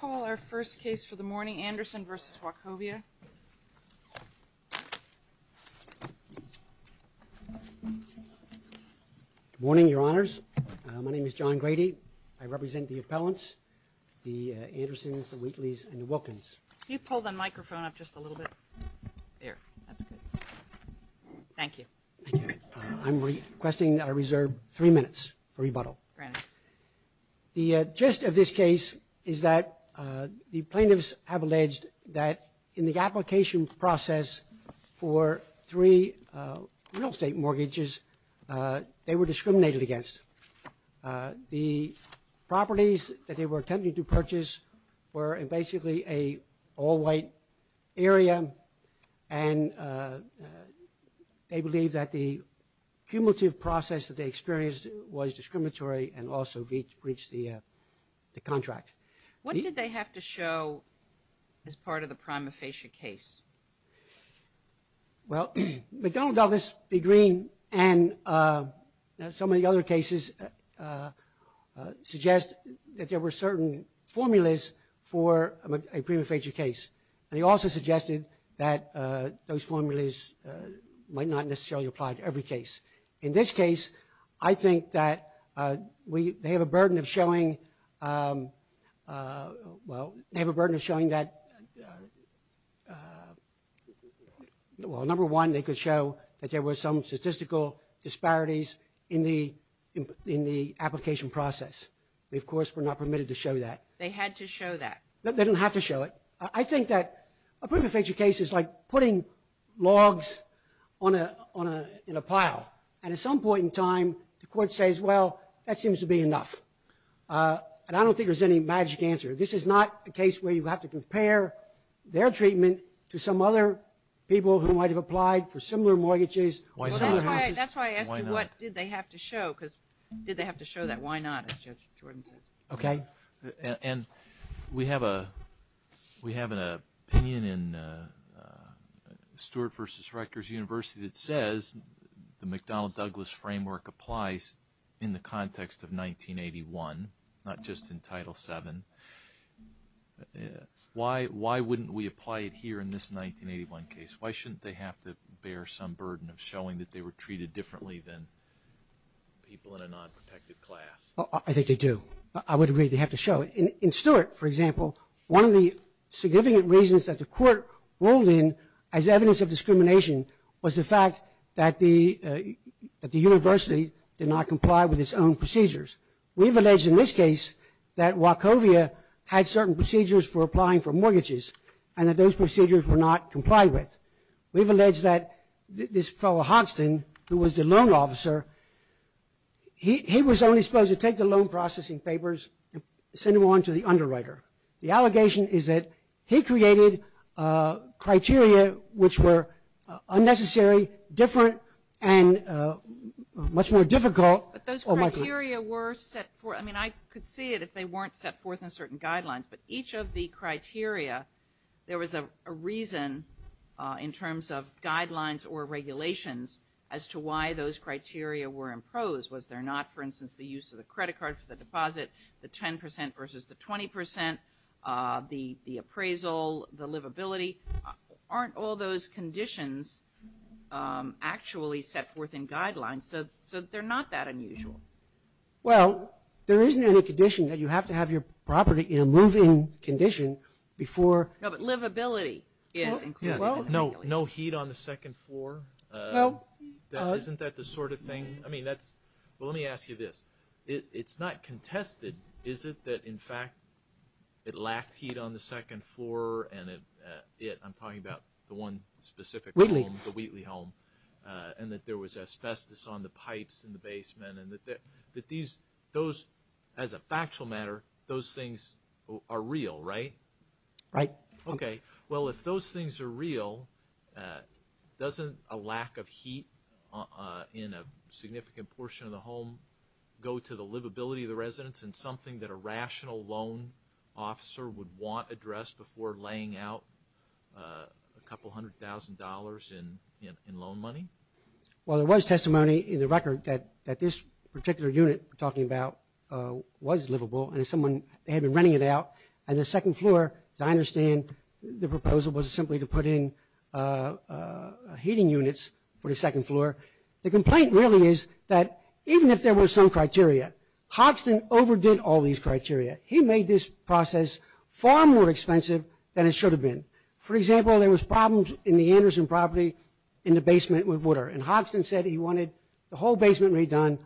Good morning, Your Honors. My name is John Grady. I represent the appellants, the Andersons, the Wheatleys, and the Wilkins. The gist of this case is that the plaintiffs have alleged that in the application process for three real estate mortgages, they were discriminated against. The properties that were in the all-white area, and they believe that the cumulative process that they experienced was discriminatory and also breached the contract. What did they have to show as part of the prima facie case? Well McDonald Douglas B. Green and some of the other cases suggest that there were certain formulas for a prima facie case. They also suggested that those formulas might not necessarily apply to every case. In this case, I think that they have a burden of showing that, number one, they could show that there were some statistical disparities in the application process. They, of course, were not permitted to show that. They had to show that. They didn't have to show it. I think that a prima facie case is like putting logs in a pile, and at some point in time, the court says, well, that seems to be enough. And I don't think there's any magic answer. This is not a case where you have to compare their treatment to some other people who might have applied for similar mortgages. That's why I asked you what did they have to show, because did they have to show that? Why not, as Judge Jordan says? And we have an opinion in Stewart v. Rector's University that says the McDonald Douglas framework applies in the context of 1981, not just in Title VII. Why wouldn't we apply it here in this 1981 case? Why shouldn't they have to bear some burden of showing that they were treated differently than people in a non-protected class? I think they do. I would agree they have to show it. In Stewart, for example, one of the significant reasons that the court ruled in as evidence of discrimination was the fact that the university did not comply with its own procedures. We've alleged in this case that Wachovia had certain procedures for applying for mortgages, and that those procedures were not complied with. We've alleged that this fellow Hoxton, who was the loan officer, he was only supposed to take the loan processing papers and send them on to the underwriter. The allegation is that he created criteria which were unnecessary, different, and much more difficult. But those criteria were set forth. I mean, I could see it if they weren't set forth in certain guidelines. But each of the criteria, there was a reason in terms of guidelines or regulations as to why those criteria were imposed. Was there not, for instance, the use of the credit card for the deposit, the 10% versus the 20%, the appraisal, the livability? Aren't all those conditions actually set forth in guidelines? So, they're not that unusual. Well, there isn't any condition that you have to have your property in a moving condition before... No, but livability is included in the regulations. No heat on the second floor? Isn't that the sort of thing? I mean, that's... Well, let me ask you this. It's not contested, is it, that in fact it lacked heat on the second floor and it, I'm talking about the one specific home, the Wheatley home, and that there was asbestos on the pipes in the basement and that these, those, as a factual matter, those things are real, right? Right. Okay. Well, if those things are real, doesn't a lack of heat in a significant portion of the home go to the livability of the residents and something that a rational loan officer would want addressed before laying out a couple hundred thousand dollars in loan money? Well, there was testimony in the record that this particular unit we're talking about was livable and someone had been renting it out and the second floor, as I understand, the proposal was simply to put in heating units for the second floor. The complaint really is that even if there were some criteria, Hoxton overdid all these criteria. He made this process far more expensive than it should have been. For example, there was problems in the Anderson property in the basement with water, and Hoxton said he wanted the whole basement redone.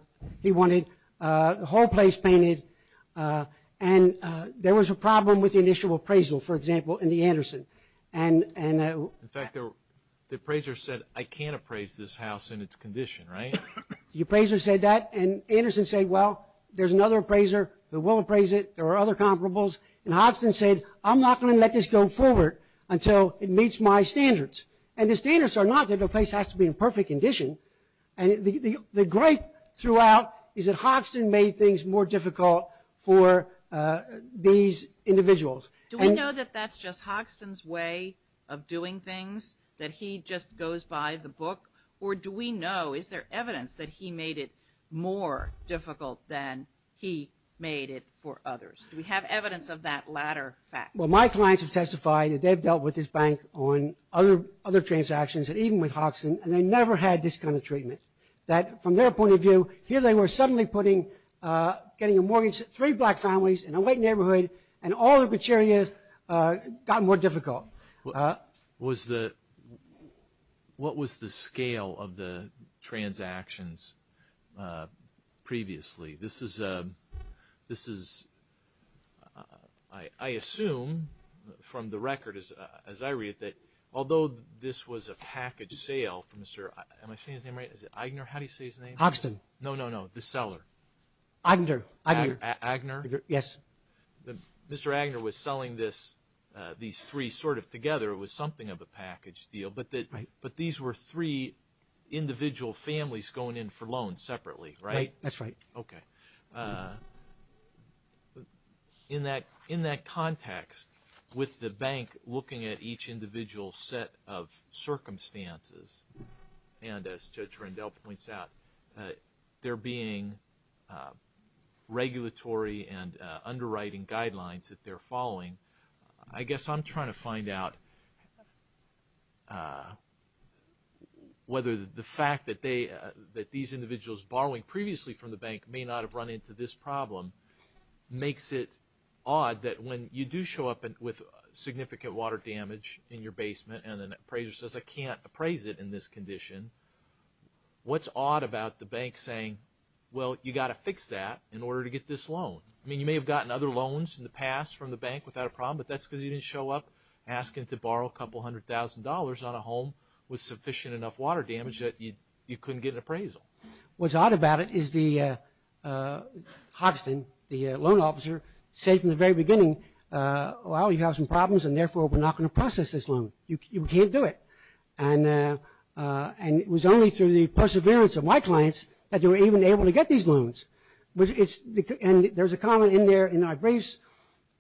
He wanted the whole place painted, and there was a problem with the initial appraisal, for example, in the Anderson, and, and, uh... In fact, the appraiser said, I can't appraise this house in its condition, right? The appraiser said that, and Anderson said, well, there's another appraiser who will appraise it, there are other comparables, and Hoxton said, I'm not going to let this go forward until it meets my standards. And the standards are not that the place has to be in perfect condition, and the, the, the gripe throughout is that Hoxton made things more difficult for, uh, these individuals. Do we know that that's just Hoxton's way of doing things, that he just goes by the book, or do we know, is there evidence that he made it more difficult than he made it for others? Do we have evidence of that latter fact? Well, my clients have testified that they've dealt with this bank on other, other transactions, and even with Hoxton, and they never had this kind of treatment. That, from their point of view, here they were suddenly putting, uh, getting a mortgage to three black families in a white neighborhood, and all of which areas, uh, got more difficult. Uh, was the, what was the scale of the transactions, uh, previously? This is, um, this is, uh, I, I assume from the record as, uh, as I read that although this was a package sale from Mr., am I saying his name right? Is it Aigner? How do you say his name? Hoxton. No, no, no, the seller. Aigner. Aigner. A, Aigner? Yes. The, Mr. Aigner was selling this, uh, these three sort of together. It was something of a package deal, but the, but these were three individual families going in for loans separately, right? That's right. Okay. Uh, in that, in that context, with the bank looking at each individual set of circumstances, and as Judge Rendell points out, uh, there being, uh, regulatory and, uh, underwriting guidelines that they're following, I guess I'm trying to find out, uh, whether the fact that they, uh, that these individuals borrowing previously from the bank may not have run into this problem makes it odd that when you do show up with significant water damage in it in this condition, what's odd about the bank saying, well, you got to fix that in order to get this loan? I mean, you may have gotten other loans in the past from the bank without a problem, but that's because you didn't show up asking to borrow a couple hundred thousand dollars on a home with sufficient enough water damage that you, you couldn't get an appraisal. What's odd about it is the, uh, uh, Hoxton, the, uh, loan officer, said from the very beginning, uh, well, you have some problems, and therefore, we're not going to process this loan. You, you can't do it. And, uh, uh, and it was only through the perseverance of my clients that they were even able to get these loans. But it's, and there's a comment in there, in our briefs,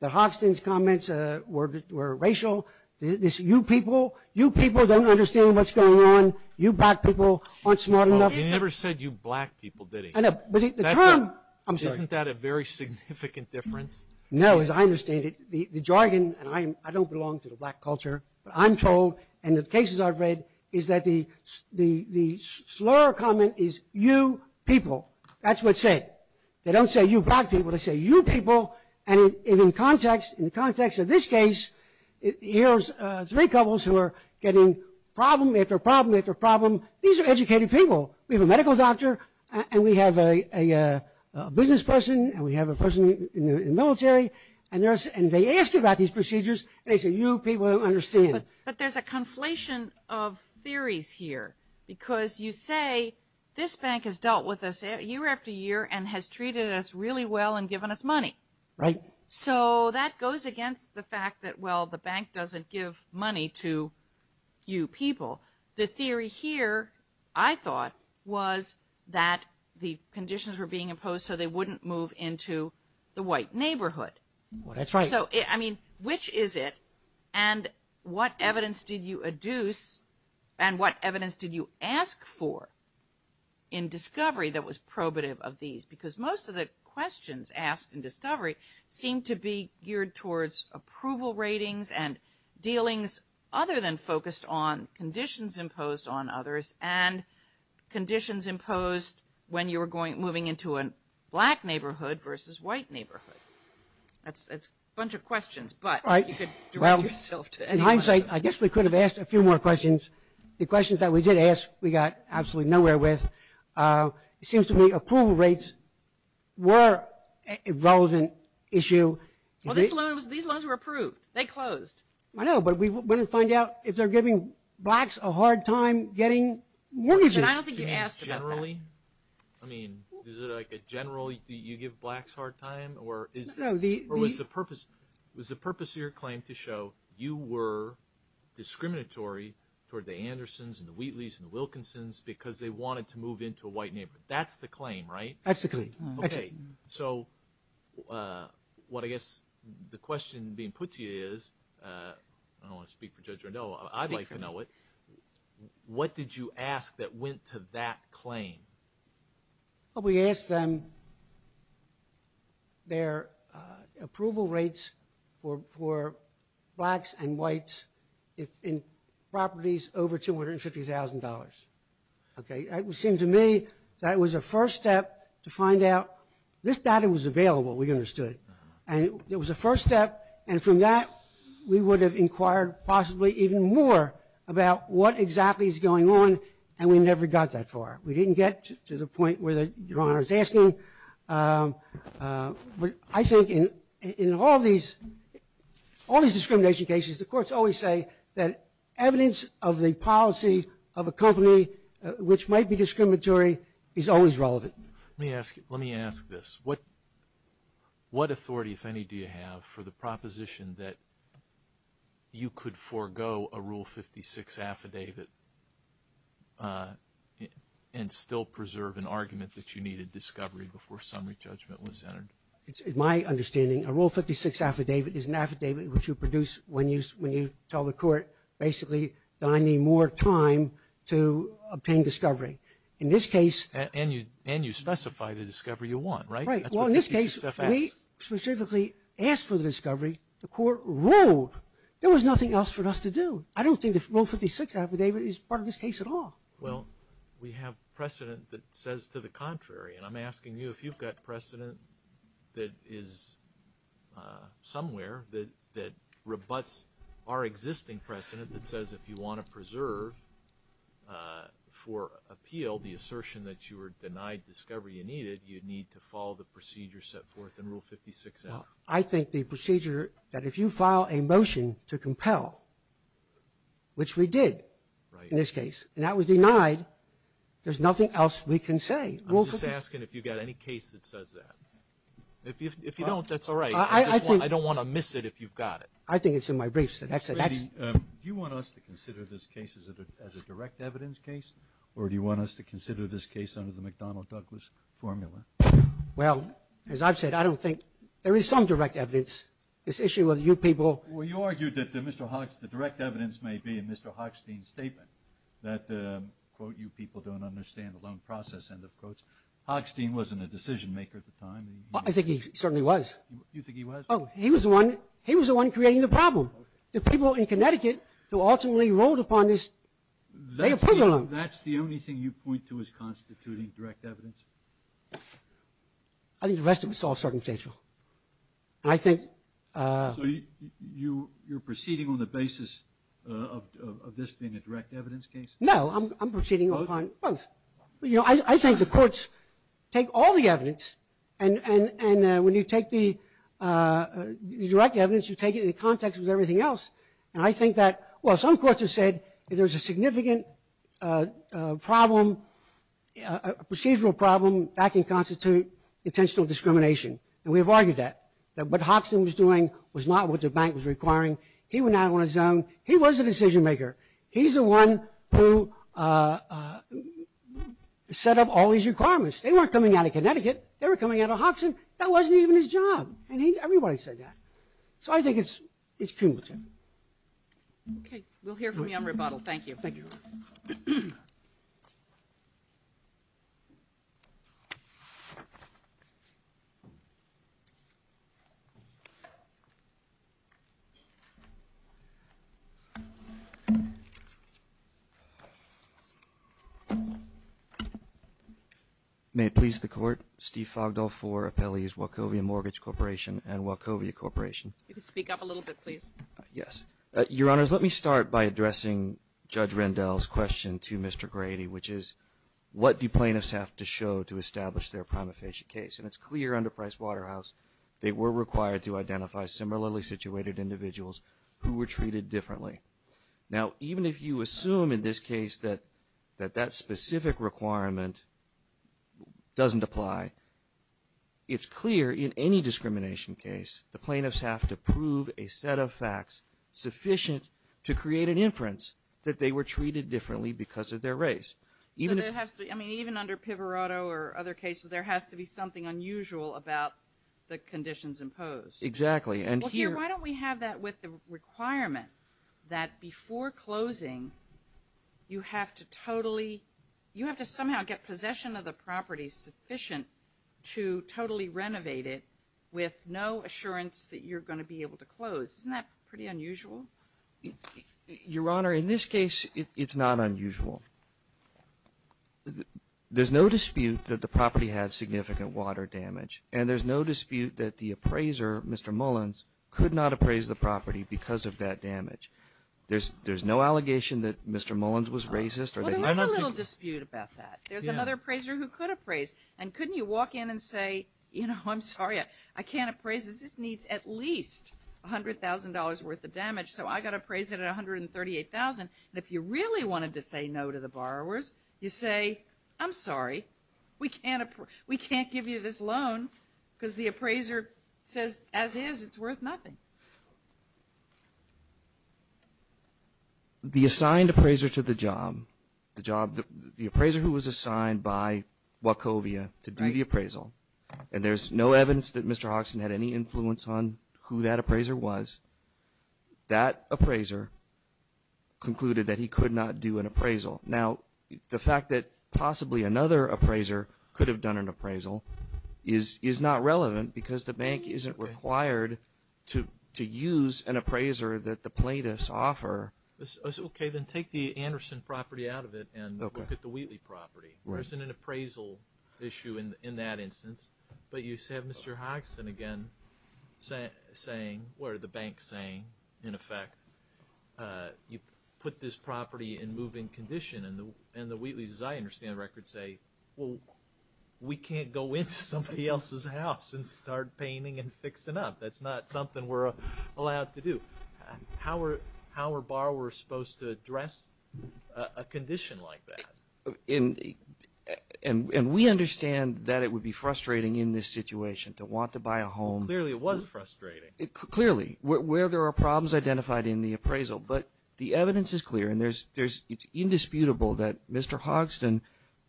that Hoxton's comments, uh, were, were racial. This, you people, you people don't understand what's going on. You black people aren't smart enough. Well, he never said you black people, did he? I know, but the term, I'm sorry. Isn't that a very significant difference? No, as I understand it, the, the jargon, and I, I don't belong to the black culture, but I'm told, and the cases I've read, is that the, the, the slur comment is you people. That's what's said. They don't say you black people, they say you people. And in, in context, in the context of this case, here's, uh, three couples who are getting problem after problem after problem. These are educated people. We have a medical doctor, and we have a, a, a business person, and we have a person in, in, in military, and there's, and they ask you about these procedures, and they say you people don't understand. But there's a conflation of theories here, because you say, this bank has dealt with us year after year, and has treated us really well, and given us money. Right. So that goes against the fact that, well, the bank doesn't give money to you people. The theory here, I thought, was that the conditions were being imposed so they wouldn't move into the white neighborhood. That's right. So, I mean, which is it, and what evidence did you adduce, and what evidence did you ask for in discovery that was probative of these? Because most of the questions asked in discovery seemed to be geared towards approval ratings, and dealings other than focused on conditions imposed on others, and conditions imposed when you were going, moving into a black neighborhood versus white neighborhood. That's, that's a bunch of questions, but you could direct yourself to any one of them. Well, in hindsight, I guess we could have asked a few more questions. The questions that we did ask, we got absolutely nowhere with. It seems to me approval rates were a relevant issue. Well, this loan was, these loans were approved. They closed. I know, but we want to find out if they're giving blacks a hard time getting mortgages. I don't think you asked about that. I mean, is it like a general, you give blacks a hard time, or was the purpose of your claim to show you were discriminatory toward the Andersons, and the Wheatleys, and the Wilkinsons because they wanted to move into a white neighborhood. That's the claim, right? That's the claim, that's it. So, what I guess, the question being put to you is, I don't want to speak for Judge Rondeau, I'd like to know it, what did you ask that went to that claim? Well, we asked them their approval rates for blacks and whites in properties over $250,000. Okay, it seemed to me that it was a first step to find out, this data was available, we understood, and it was a first step, and from that, we would have inquired possibly even more about what exactly is going on, and we never got that far. We didn't get to the point where the Your Honor is asking, but I think in all these, all these discrimination cases, the courts always say that evidence of the policy of a company which might be discriminatory is always relevant. Let me ask you, let me ask this, what authority, if any, do you have for the proposition that you could forego a Rule 56 affidavit and still preserve an argument that you needed discovery before summary judgment was entered? My understanding, a Rule 56 affidavit is an affidavit which you produce when you tell the court, basically, that I need more time to obtain discovery. In this case... And you specify the discovery you want, right? Right, well, in this case, we specifically asked for the discovery, the court ruled. There was nothing else for us to do. I don't think the Rule 56 affidavit is part of this case at all. Well, we have precedent that says to the contrary, and I'm asking you if you've got precedent that is somewhere that rebutts our existing precedent that says if you want to preserve for appeal the assertion that you were denied discovery you needed, you need to follow the procedure set forth in Rule 56. I think the procedure that if you file a motion to compel, which we did in this case, and that was denied, there's nothing else we can say. I'm just asking if you've got any case that says that. If you don't, that's all right. I don't want to miss it if you've got it. I think it's in my briefs. Do you want us to consider this case as a direct evidence case, or do you want us to consider this case under the McDonnell-Douglas formula? Well, as I've said, I don't think... There is some direct evidence. This issue of you people... Well, you argued that the direct evidence may be in Mr. Hochstein's statement that, quote, you people don't understand the loan process, end of quotes. Hochstein wasn't a decision maker at the time. I think he certainly was. You think he was? Oh, he was the one creating the problem. The people in Connecticut who ultimately rolled upon this, they approved the loan. That's the only thing you point to as constituting direct evidence? I think the rest of it's all circumstantial. I think... So you're proceeding on the basis of this being a direct evidence case? No, I'm proceeding upon both. I think the courts take all the evidence, and when you take the direct evidence, you take it in context with everything else. And I think that... Well, some courts have said if there's a significant problem, a procedural problem, that can constitute intentional discrimination. And we have argued that. What Hochstein was doing was not what the bank was requiring. He went out on his own. He was a decision maker. He's the one who set up all these requirements. They weren't coming out of Connecticut. They were coming out of Hobson. That wasn't even his job. And everybody said that. So I think it's cumulative. Okay. We'll hear from you on rebuttal. Thank you. Thank you. Thank you. May it please the Court, Steve Fogdell for Appellees Wachovia Mortgage Corporation and Wachovia Corporation. You can speak up a little bit, please. Yes. Your Honors, let me start by addressing Judge Rendell's question to Mr. Grady, which is what do plaintiffs have to show to establish their prima facie case? And it's clear under Price Waterhouse they were required to identify similarly situated individuals who were treated differently. Now even if you assume in this case that that specific requirement doesn't apply, it's clear in any discrimination case the plaintiffs have to prove a set of facts sufficient to create an inference that they were treated differently because of their race. So there has to be, I mean, even under Pivarotto or other cases, there has to be something unusual about the conditions imposed. Exactly. And here... Well, here, why don't we have that with the requirement that before closing you have to with no assurance that you're going to be able to close. Isn't that pretty unusual? Your Honor, in this case it's not unusual. There's no dispute that the property had significant water damage and there's no dispute that the appraiser, Mr. Mullins, could not appraise the property because of that damage. There's no allegation that Mr. Mullins was racist or that he... Well, there was a little dispute about that. There's another appraiser who could appraise and couldn't you walk in and say, you know, I'm sorry, I can't appraise this. This needs at least $100,000 worth of damage, so I've got to appraise it at $138,000. If you really wanted to say no to the borrowers, you say, I'm sorry, we can't give you this loan because the appraiser says, as is, it's worth nothing. The assigned appraiser to the job, the appraiser who was assigned by Wachovia to do the appraisal, and there's no evidence that Mr. Hoxton had any influence on who that appraiser was, that appraiser concluded that he could not do an appraisal. Now, the fact that possibly another appraiser could have done an appraisal is not relevant because the bank isn't required to use an appraiser that the plaintiffs offer. Okay, then take the Anderson property out of it and look at the Wheatley property. There isn't an appraisal issue in that instance, but you have Mr. Hoxton again saying, or the bank saying, in effect, you put this property in moving condition, and the Wheatleys, as I understand the record, say, well, we can't go into somebody else's house and start painting and fixing up. That's not something we're allowed to do. How are borrowers supposed to address a condition like that? And we understand that it would be frustrating in this situation to want to buy a home. Clearly, it was frustrating. Clearly, where there are problems identified in the appraisal, but the evidence is clear, and it's indisputable that Mr. Hoxton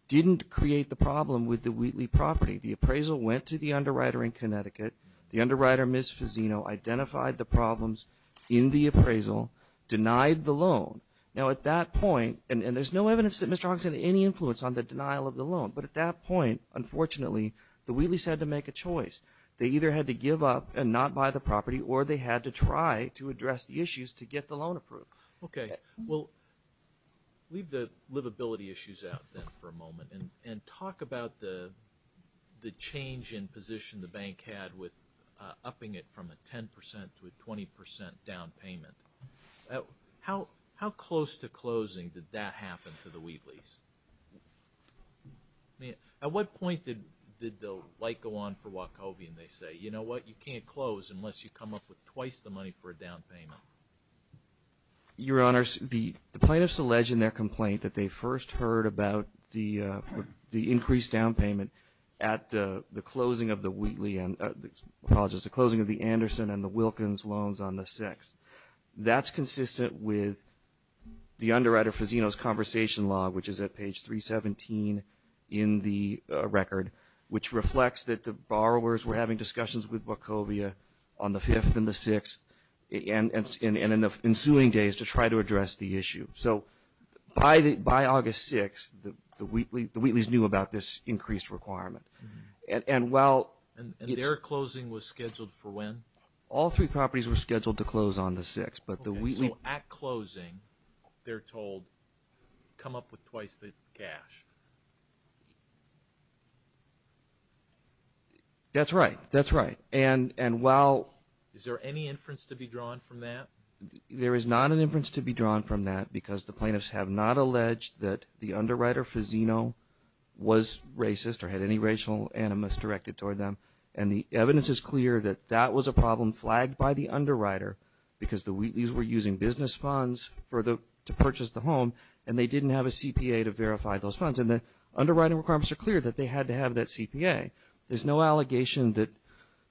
didn't create the problem with the Wheatley property. The appraisal went to the underwriter in Connecticut. The underwriter, Ms. Fazzino, identified the problems in the appraisal, denied the loan. Now, at that point, and there's no evidence that Mr. Hoxton had any influence on the denial of the loan, but at that point, unfortunately, the Wheatleys had to make a choice. They either had to give up and not buy the property, or they had to try to address the issues to get the loan approved. Okay. Well, leave the livability issues out then for a moment, and talk about the change in position the bank had with upping it from a 10 percent to a 20 percent down payment. How close to closing did that happen to the Wheatleys? At what point did the light go on for Wachovian, they say? You know what? You can't close unless you come up with twice the money for a down payment. Your Honor, the plaintiffs allege in their complaint that they first heard about the increased down payment at the closing of the Wheatley, apologies, the closing of the Anderson and the Wilkins loans on the 6th. That's consistent with the underwriter Fazzino's conversation log, which is at page 317 in the record, which reflects that the borrowers were having discussions with Wachovia on the 5th and the 6th, and in the ensuing days to try to address the issue. So by August 6th, the Wheatleys knew about this increased requirement. And their closing was scheduled for when? All three properties were scheduled to close on the 6th. So at closing, they're told, come up with twice the cash? That's right. That's right. And while... Is there any inference to be drawn from that? There is not an inference to be drawn from that because the plaintiffs have not alleged that the underwriter Fazzino was racist or had any racial animus directed toward them. And the evidence is clear that that was a problem flagged by the underwriter because the Wheatleys were using business funds to purchase the home and they didn't have a CPA to verify those funds. And the underwriting requirements are clear that they had to have that CPA. There's no allegation that...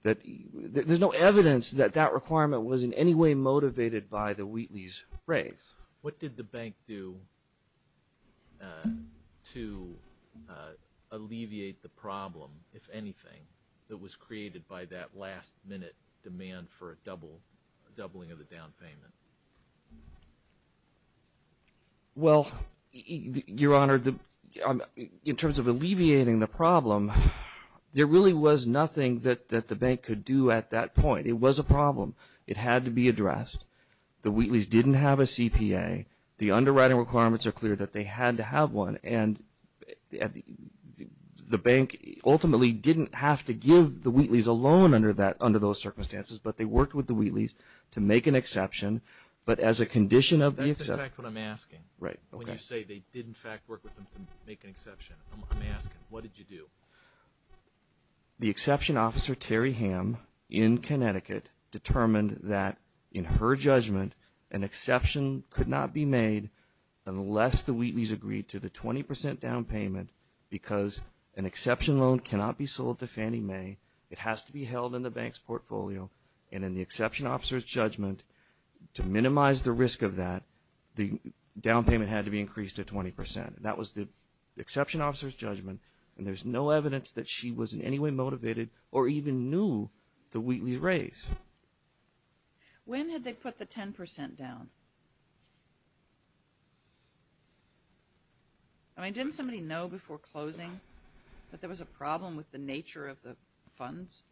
There's no evidence that that requirement was in any way motivated by the Wheatley's raise. What did the bank do to alleviate the problem, if anything, that was created by that last minute demand for a doubling of the down payment? Well, Your Honor, in terms of alleviating the problem, there really was nothing that the bank could do at that point. It was a problem. It had to be addressed. The Wheatleys didn't have a CPA. The underwriting requirements are clear that they had to have one. And the bank ultimately didn't have to give the Wheatleys a loan under those circumstances, but they worked with the Wheatleys to make an exception. But as a condition of the exception... That's exactly what I'm asking. Right. When you say they did, in fact, work with them to make an exception, I'm asking, what did you do? The exception officer, Terry Ham, in Connecticut, determined that in her judgment, an exception could not be made unless the Wheatleys agreed to the 20% down payment because an exception loan cannot be sold to Fannie Mae. It has to be held in the bank's portfolio. And in the exception officer's judgment, to minimize the risk of that, the down payment had to be increased to 20%. That was the exception officer's judgment, and there's no evidence that she was in any way motivated or even knew the Wheatleys' raise. When had they put the 10% down? I mean, didn't somebody know before closing that there was a problem with the nature of the funds?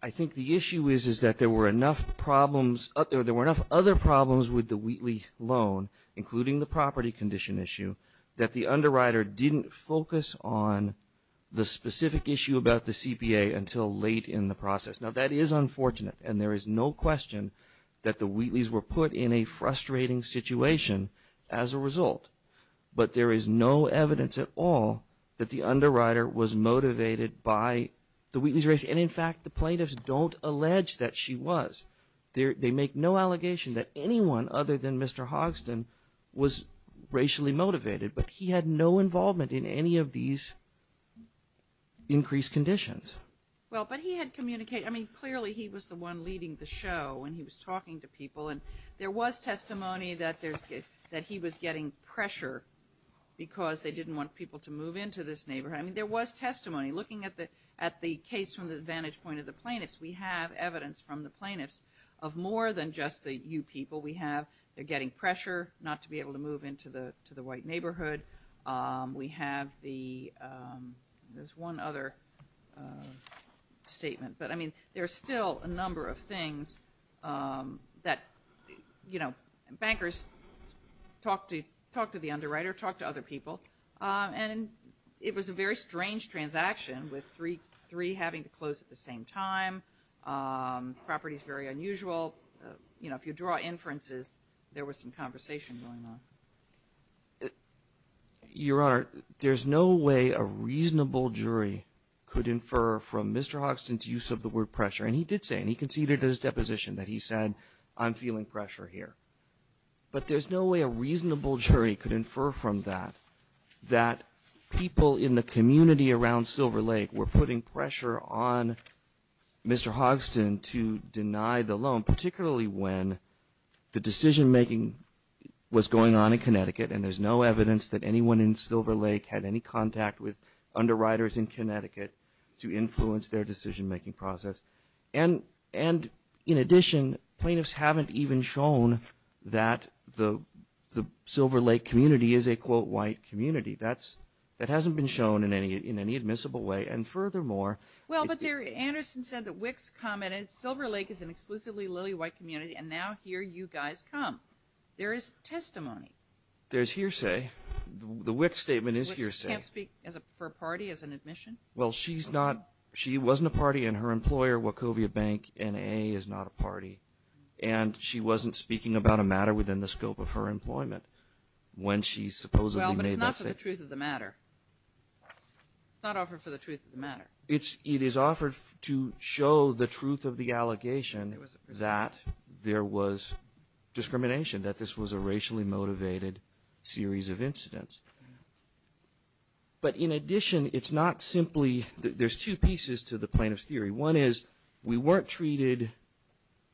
I think the issue is that there were enough problems... that the underwriter didn't focus on the specific issue about the CPA until late in the process. Now, that is unfortunate, and there is no question that the Wheatleys were put in a frustrating situation as a result. But there is no evidence at all that the underwriter was motivated by the Wheatleys' raise. And in fact, the plaintiffs don't allege that she was. They make no allegation that anyone other than Mr. Hoxton was racially motivated, but he had no involvement in any of these increased conditions. Well, but he had communicated... I mean, clearly he was the one leading the show, and he was talking to people, and there was testimony that he was getting pressure because they didn't want people to move into this neighborhood. I mean, there was testimony. Looking at the case from the vantage point of the plaintiffs, we have evidence from the of more than just the you people. We have, they're getting pressure not to be able to move into the white neighborhood. We have the, there's one other statement, but I mean, there's still a number of things that, you know, bankers talk to the underwriter, talk to other people, and it was a very strange transaction with three having to close at the same time. Property's very unusual. You know, if you draw inferences, there was some conversation going on. Your Honor, there's no way a reasonable jury could infer from Mr. Hoxton's use of the word pressure. And he did say, and he conceded in his deposition that he said, I'm feeling pressure here. But there's no way a reasonable jury could infer from that that people in the community around Silver Lake were putting pressure on Mr. Hoxton to deny the loan, particularly when the decision-making was going on in Connecticut and there's no evidence that anyone in Silver Lake had any contact with underwriters in Connecticut to influence their decision-making process. And in addition, plaintiffs haven't even shown that the Silver Lake community is a, quote, white community. That hasn't been shown in any admissible way. And furthermore... Well, but Anderson said that Wicks commented, Silver Lake is an exclusively lily-white community and now here you guys come. There is testimony. There's hearsay. The Wicks statement is hearsay. Wicks can't speak for a party as an admission? Well she's not, she wasn't a party and her employer, Wachovia Bank, NAA, is not a party. And she wasn't speaking about a matter within the scope of her employment when she supposedly made that statement. But it's not for the truth of the matter. It's not offered for the truth of the matter. It is offered to show the truth of the allegation that there was discrimination, that this was a racially motivated series of incidents. But in addition, it's not simply, there's two pieces to the plaintiff's theory. One is, we weren't treated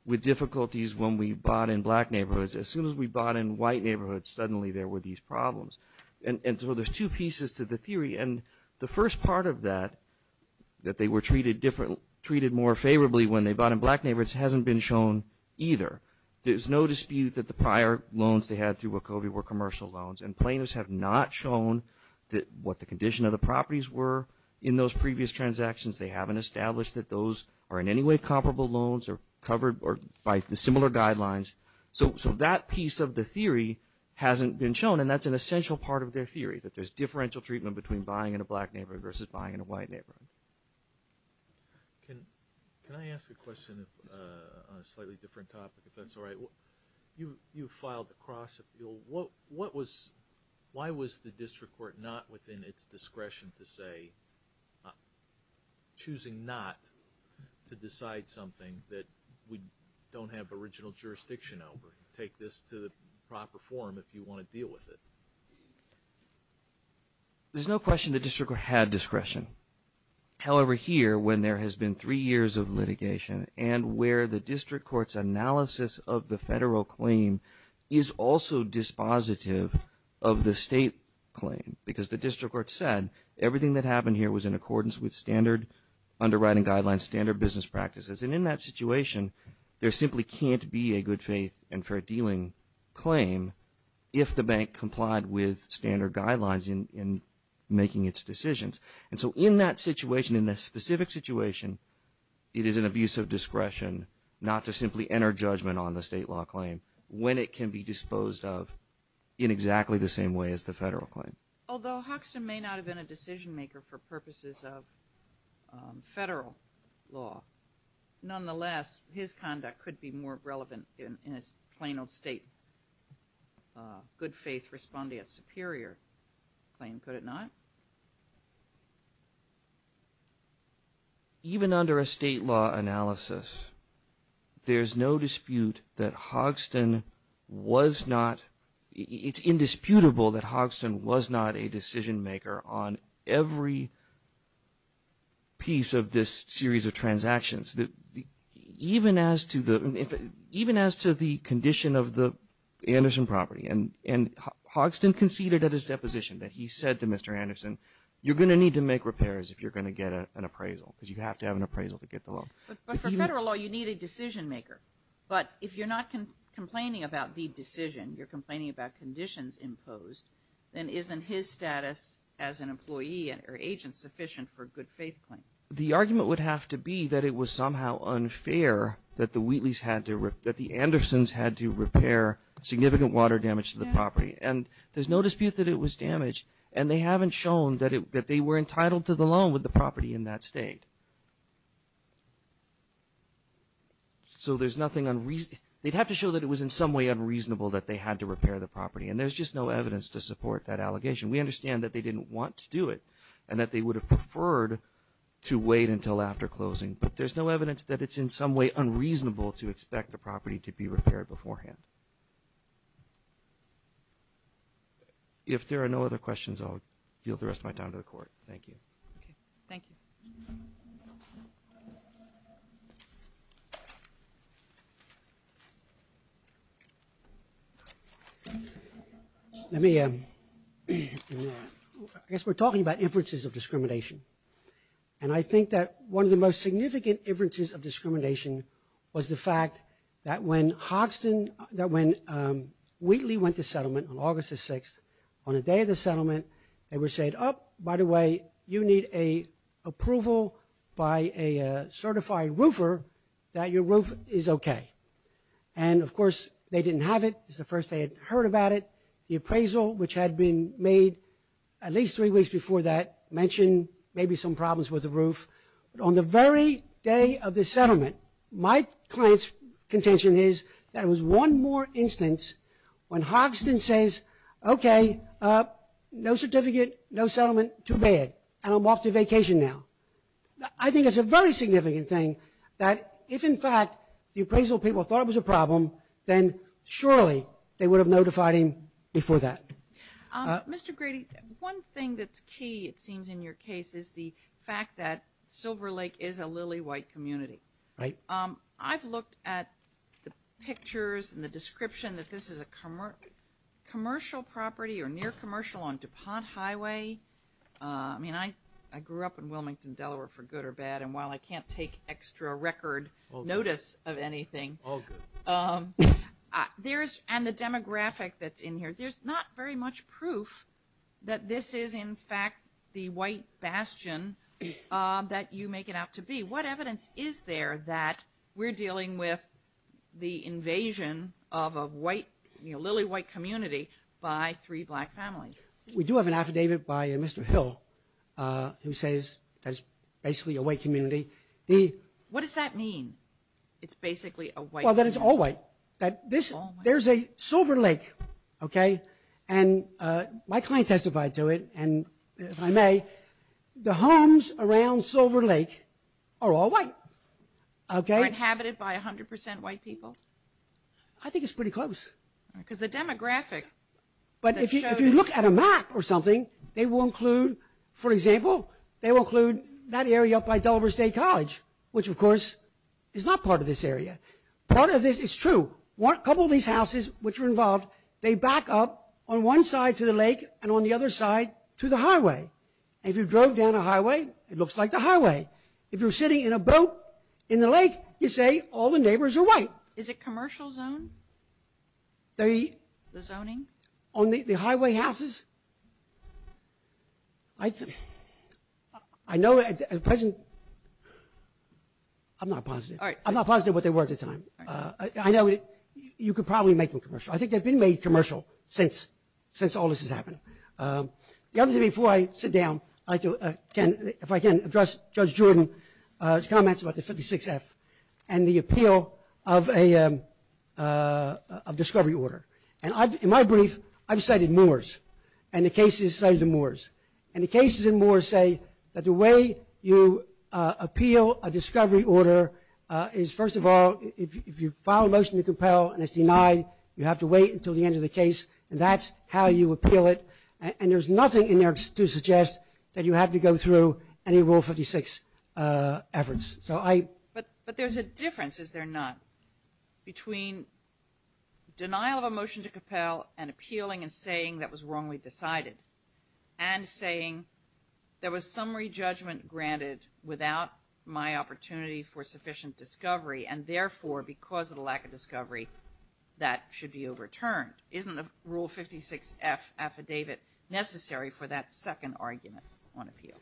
with difficulties when we bought in black neighborhoods. As soon as we bought in white neighborhoods, suddenly there were these problems. And so there's two pieces to the theory. And the first part of that, that they were treated more favorably when they bought in black neighborhoods, hasn't been shown either. There's no dispute that the prior loans they had through Wachovia were commercial loans. And plaintiffs have not shown what the condition of the properties were in those previous transactions. They haven't established that those are in any way comparable loans or covered by the similar guidelines. So that piece of the theory hasn't been shown, and that's an essential part of their theory, that there's differential treatment between buying in a black neighborhood versus buying in a white neighborhood. Can I ask a question on a slightly different topic, if that's all right? You filed a cross appeal. Why was the district court not within its discretion to say, choosing not to decide something that we don't have original jurisdiction over? Take this to the proper forum if you want to deal with it. There's no question the district court had discretion. However, here, when there has been three years of litigation, and where the district court's analysis of the federal claim is also dispositive of the state claim. Because the district court said, everything that happened here was in accordance with standard underwriting guidelines, standard business practices. And in that situation, there simply can't be a good faith and fair dealing claim if the bank complied with standard guidelines in making its decisions. And so in that situation, in this specific situation, it is an abuse of discretion not to simply enter judgment on the state law claim when it can be disposed of in exactly the same way as the federal claim. Although Hoxton may not have been a decision maker for purposes of federal law, nonetheless, his conduct could be more relevant in his plain old state good faith respondeat superior claim, could it not? Even under a state law analysis, there's no dispute that Hoxton was not, it's indisputable that Hoxton was not a decision maker on every piece of this series of transactions. Even as to the condition of the Anderson property, and Hoxton conceded at his deposition that he said to Mr. Anderson, you're going to need to make repairs if you're going to get an appraisal, because you have to have an appraisal to get the loan. But for federal law, you need a decision maker. But if you're not complaining about the decision, you're complaining about conditions imposed, then isn't his status as an employee or agent sufficient for a good faith claim? The argument would have to be that it was somehow unfair that the Wheatleys had to, that the Andersons had to repair significant water damage to the property. And there's no dispute that it was damaged, and they haven't shown that they were entitled to the loan with the property in that state. So there's nothing unreasonable, they'd have to show that it was in some way unreasonable that they had to repair the property. And there's just no evidence to support that allegation. We understand that they didn't want to do it, and that they would have preferred to wait until after closing, but there's no evidence that it's in some way unreasonable to expect the property to be repaired beforehand. If there are no other questions, I'll yield the rest of my time to the court. Thank you. Thank you. Let me, I guess we're talking about inferences of discrimination. And I think that one of the most significant inferences of discrimination was the fact that when Hoxton, that when Wheatley went to settlement on August the 6th, on the day of the settlement, they were said, oh, by the way, you need an approval by a certified roofer that your roof is okay. And of course, they didn't have it. It was the first they had heard about it. The appraisal, which had been made at least three weeks before that, mentioned maybe some problems with the roof. But on the very day of the settlement, my client's contention is that it was one more instance when Hoxton says, okay, no certificate, no settlement, too bad, and I'm off to vacation now. I think it's a very significant thing that if in fact the appraisal people thought it was a problem, then surely they would have notified him before that. Mr. Grady, one thing that's key, it seems in your case, is the fact that Silver Lake is a lily white community. Right. I've looked at the pictures and the description that this is a commercial property or near commercial on DuPont Highway. I mean, I grew up in Wilmington, Delaware, for good or bad. And while I can't take extra record notice of anything, and the demographic that's in here, there's not very much proof that this is in fact the white bastion that you make it out to be. What evidence is there that we're dealing with the invasion of a lily white community by three black families? We do have an affidavit by Mr. Hill who says that it's basically a white community. What does that mean? It's basically a white community. Well, that it's all white, that there's a Silver Lake, okay? And my client testified to it. And if I may, the homes around Silver Lake are all white, okay? Are inhabited by 100% white people? I think it's pretty close. Because the demographic that shows it. But if you look at a map or something, they will include, for example, they will include that area up by Delaware State College, which of course is not part of this area. Part of this, it's true, a couple of these houses which are involved, they back up on one side to the lake and on the other side to the highway. If you drove down a highway, it looks like the highway. If you're sitting in a boat in the lake, you say all the neighbors are white. Is it commercial zone? The zoning? On the highway houses? I know at the present, I'm not positive. All right. I'm not positive what they were at the time. I know you could probably make them commercial. I think they've been made commercial since all this has happened. The other thing before I sit down, if I can, address Judge Jordan's comments about the 56F and the appeal of a discovery order. And in my brief, I've cited Moore's and the cases cited in Moore's. And the cases in Moore's say that the way you appeal a discovery order is first of all, if you file a motion to compel and it's denied, you have to wait until the end of the case. And that's how you appeal it. And there's nothing in there to suggest that you have to go through any Rule 56 efforts. So I... But there's a difference, is there not, between denial of a motion to compel and appealing and saying that was wrongly decided and saying there was summary judgment granted without my opportunity for sufficient discovery. And therefore, because of the lack of discovery, that should be overturned. Isn't the Rule 56F affidavit necessary for that second argument on appeal?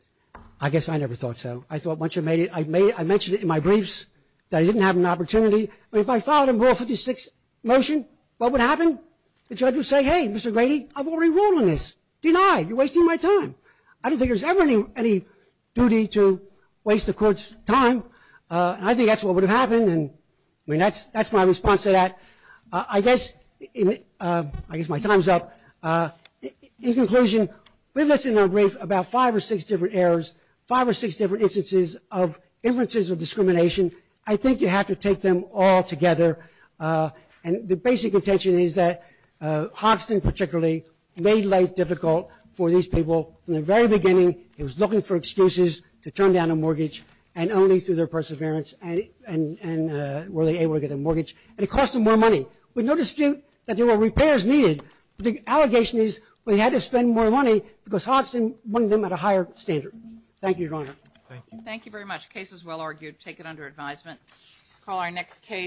I guess I never thought so. I thought once you made it, I mentioned it in my briefs that I didn't have an opportunity. But if I filed a Rule 56 motion, what would happen? The judge would say, hey, Mr. Grady, I've already ruled on this. Denied. You're wasting my time. I don't think there's ever any duty to waste the court's time. I think that's what would have happened. And I mean, that's my response to that. I guess my time's up. In conclusion, we've listed in our brief about five or six different errors, five or six different instances of inferences of discrimination. I think you have to take them all together. And the basic intention is that Hoxton particularly made life difficult for these people. And only through their perseverance were they able to get a mortgage. And it cost them more money. With no dispute that there were repairs needed. The allegation is we had to spend more money because Hoxton wanted them at a higher standard. Thank you, Your Honor. Thank you very much. Case is well argued. Take it under advisement. Call our next case.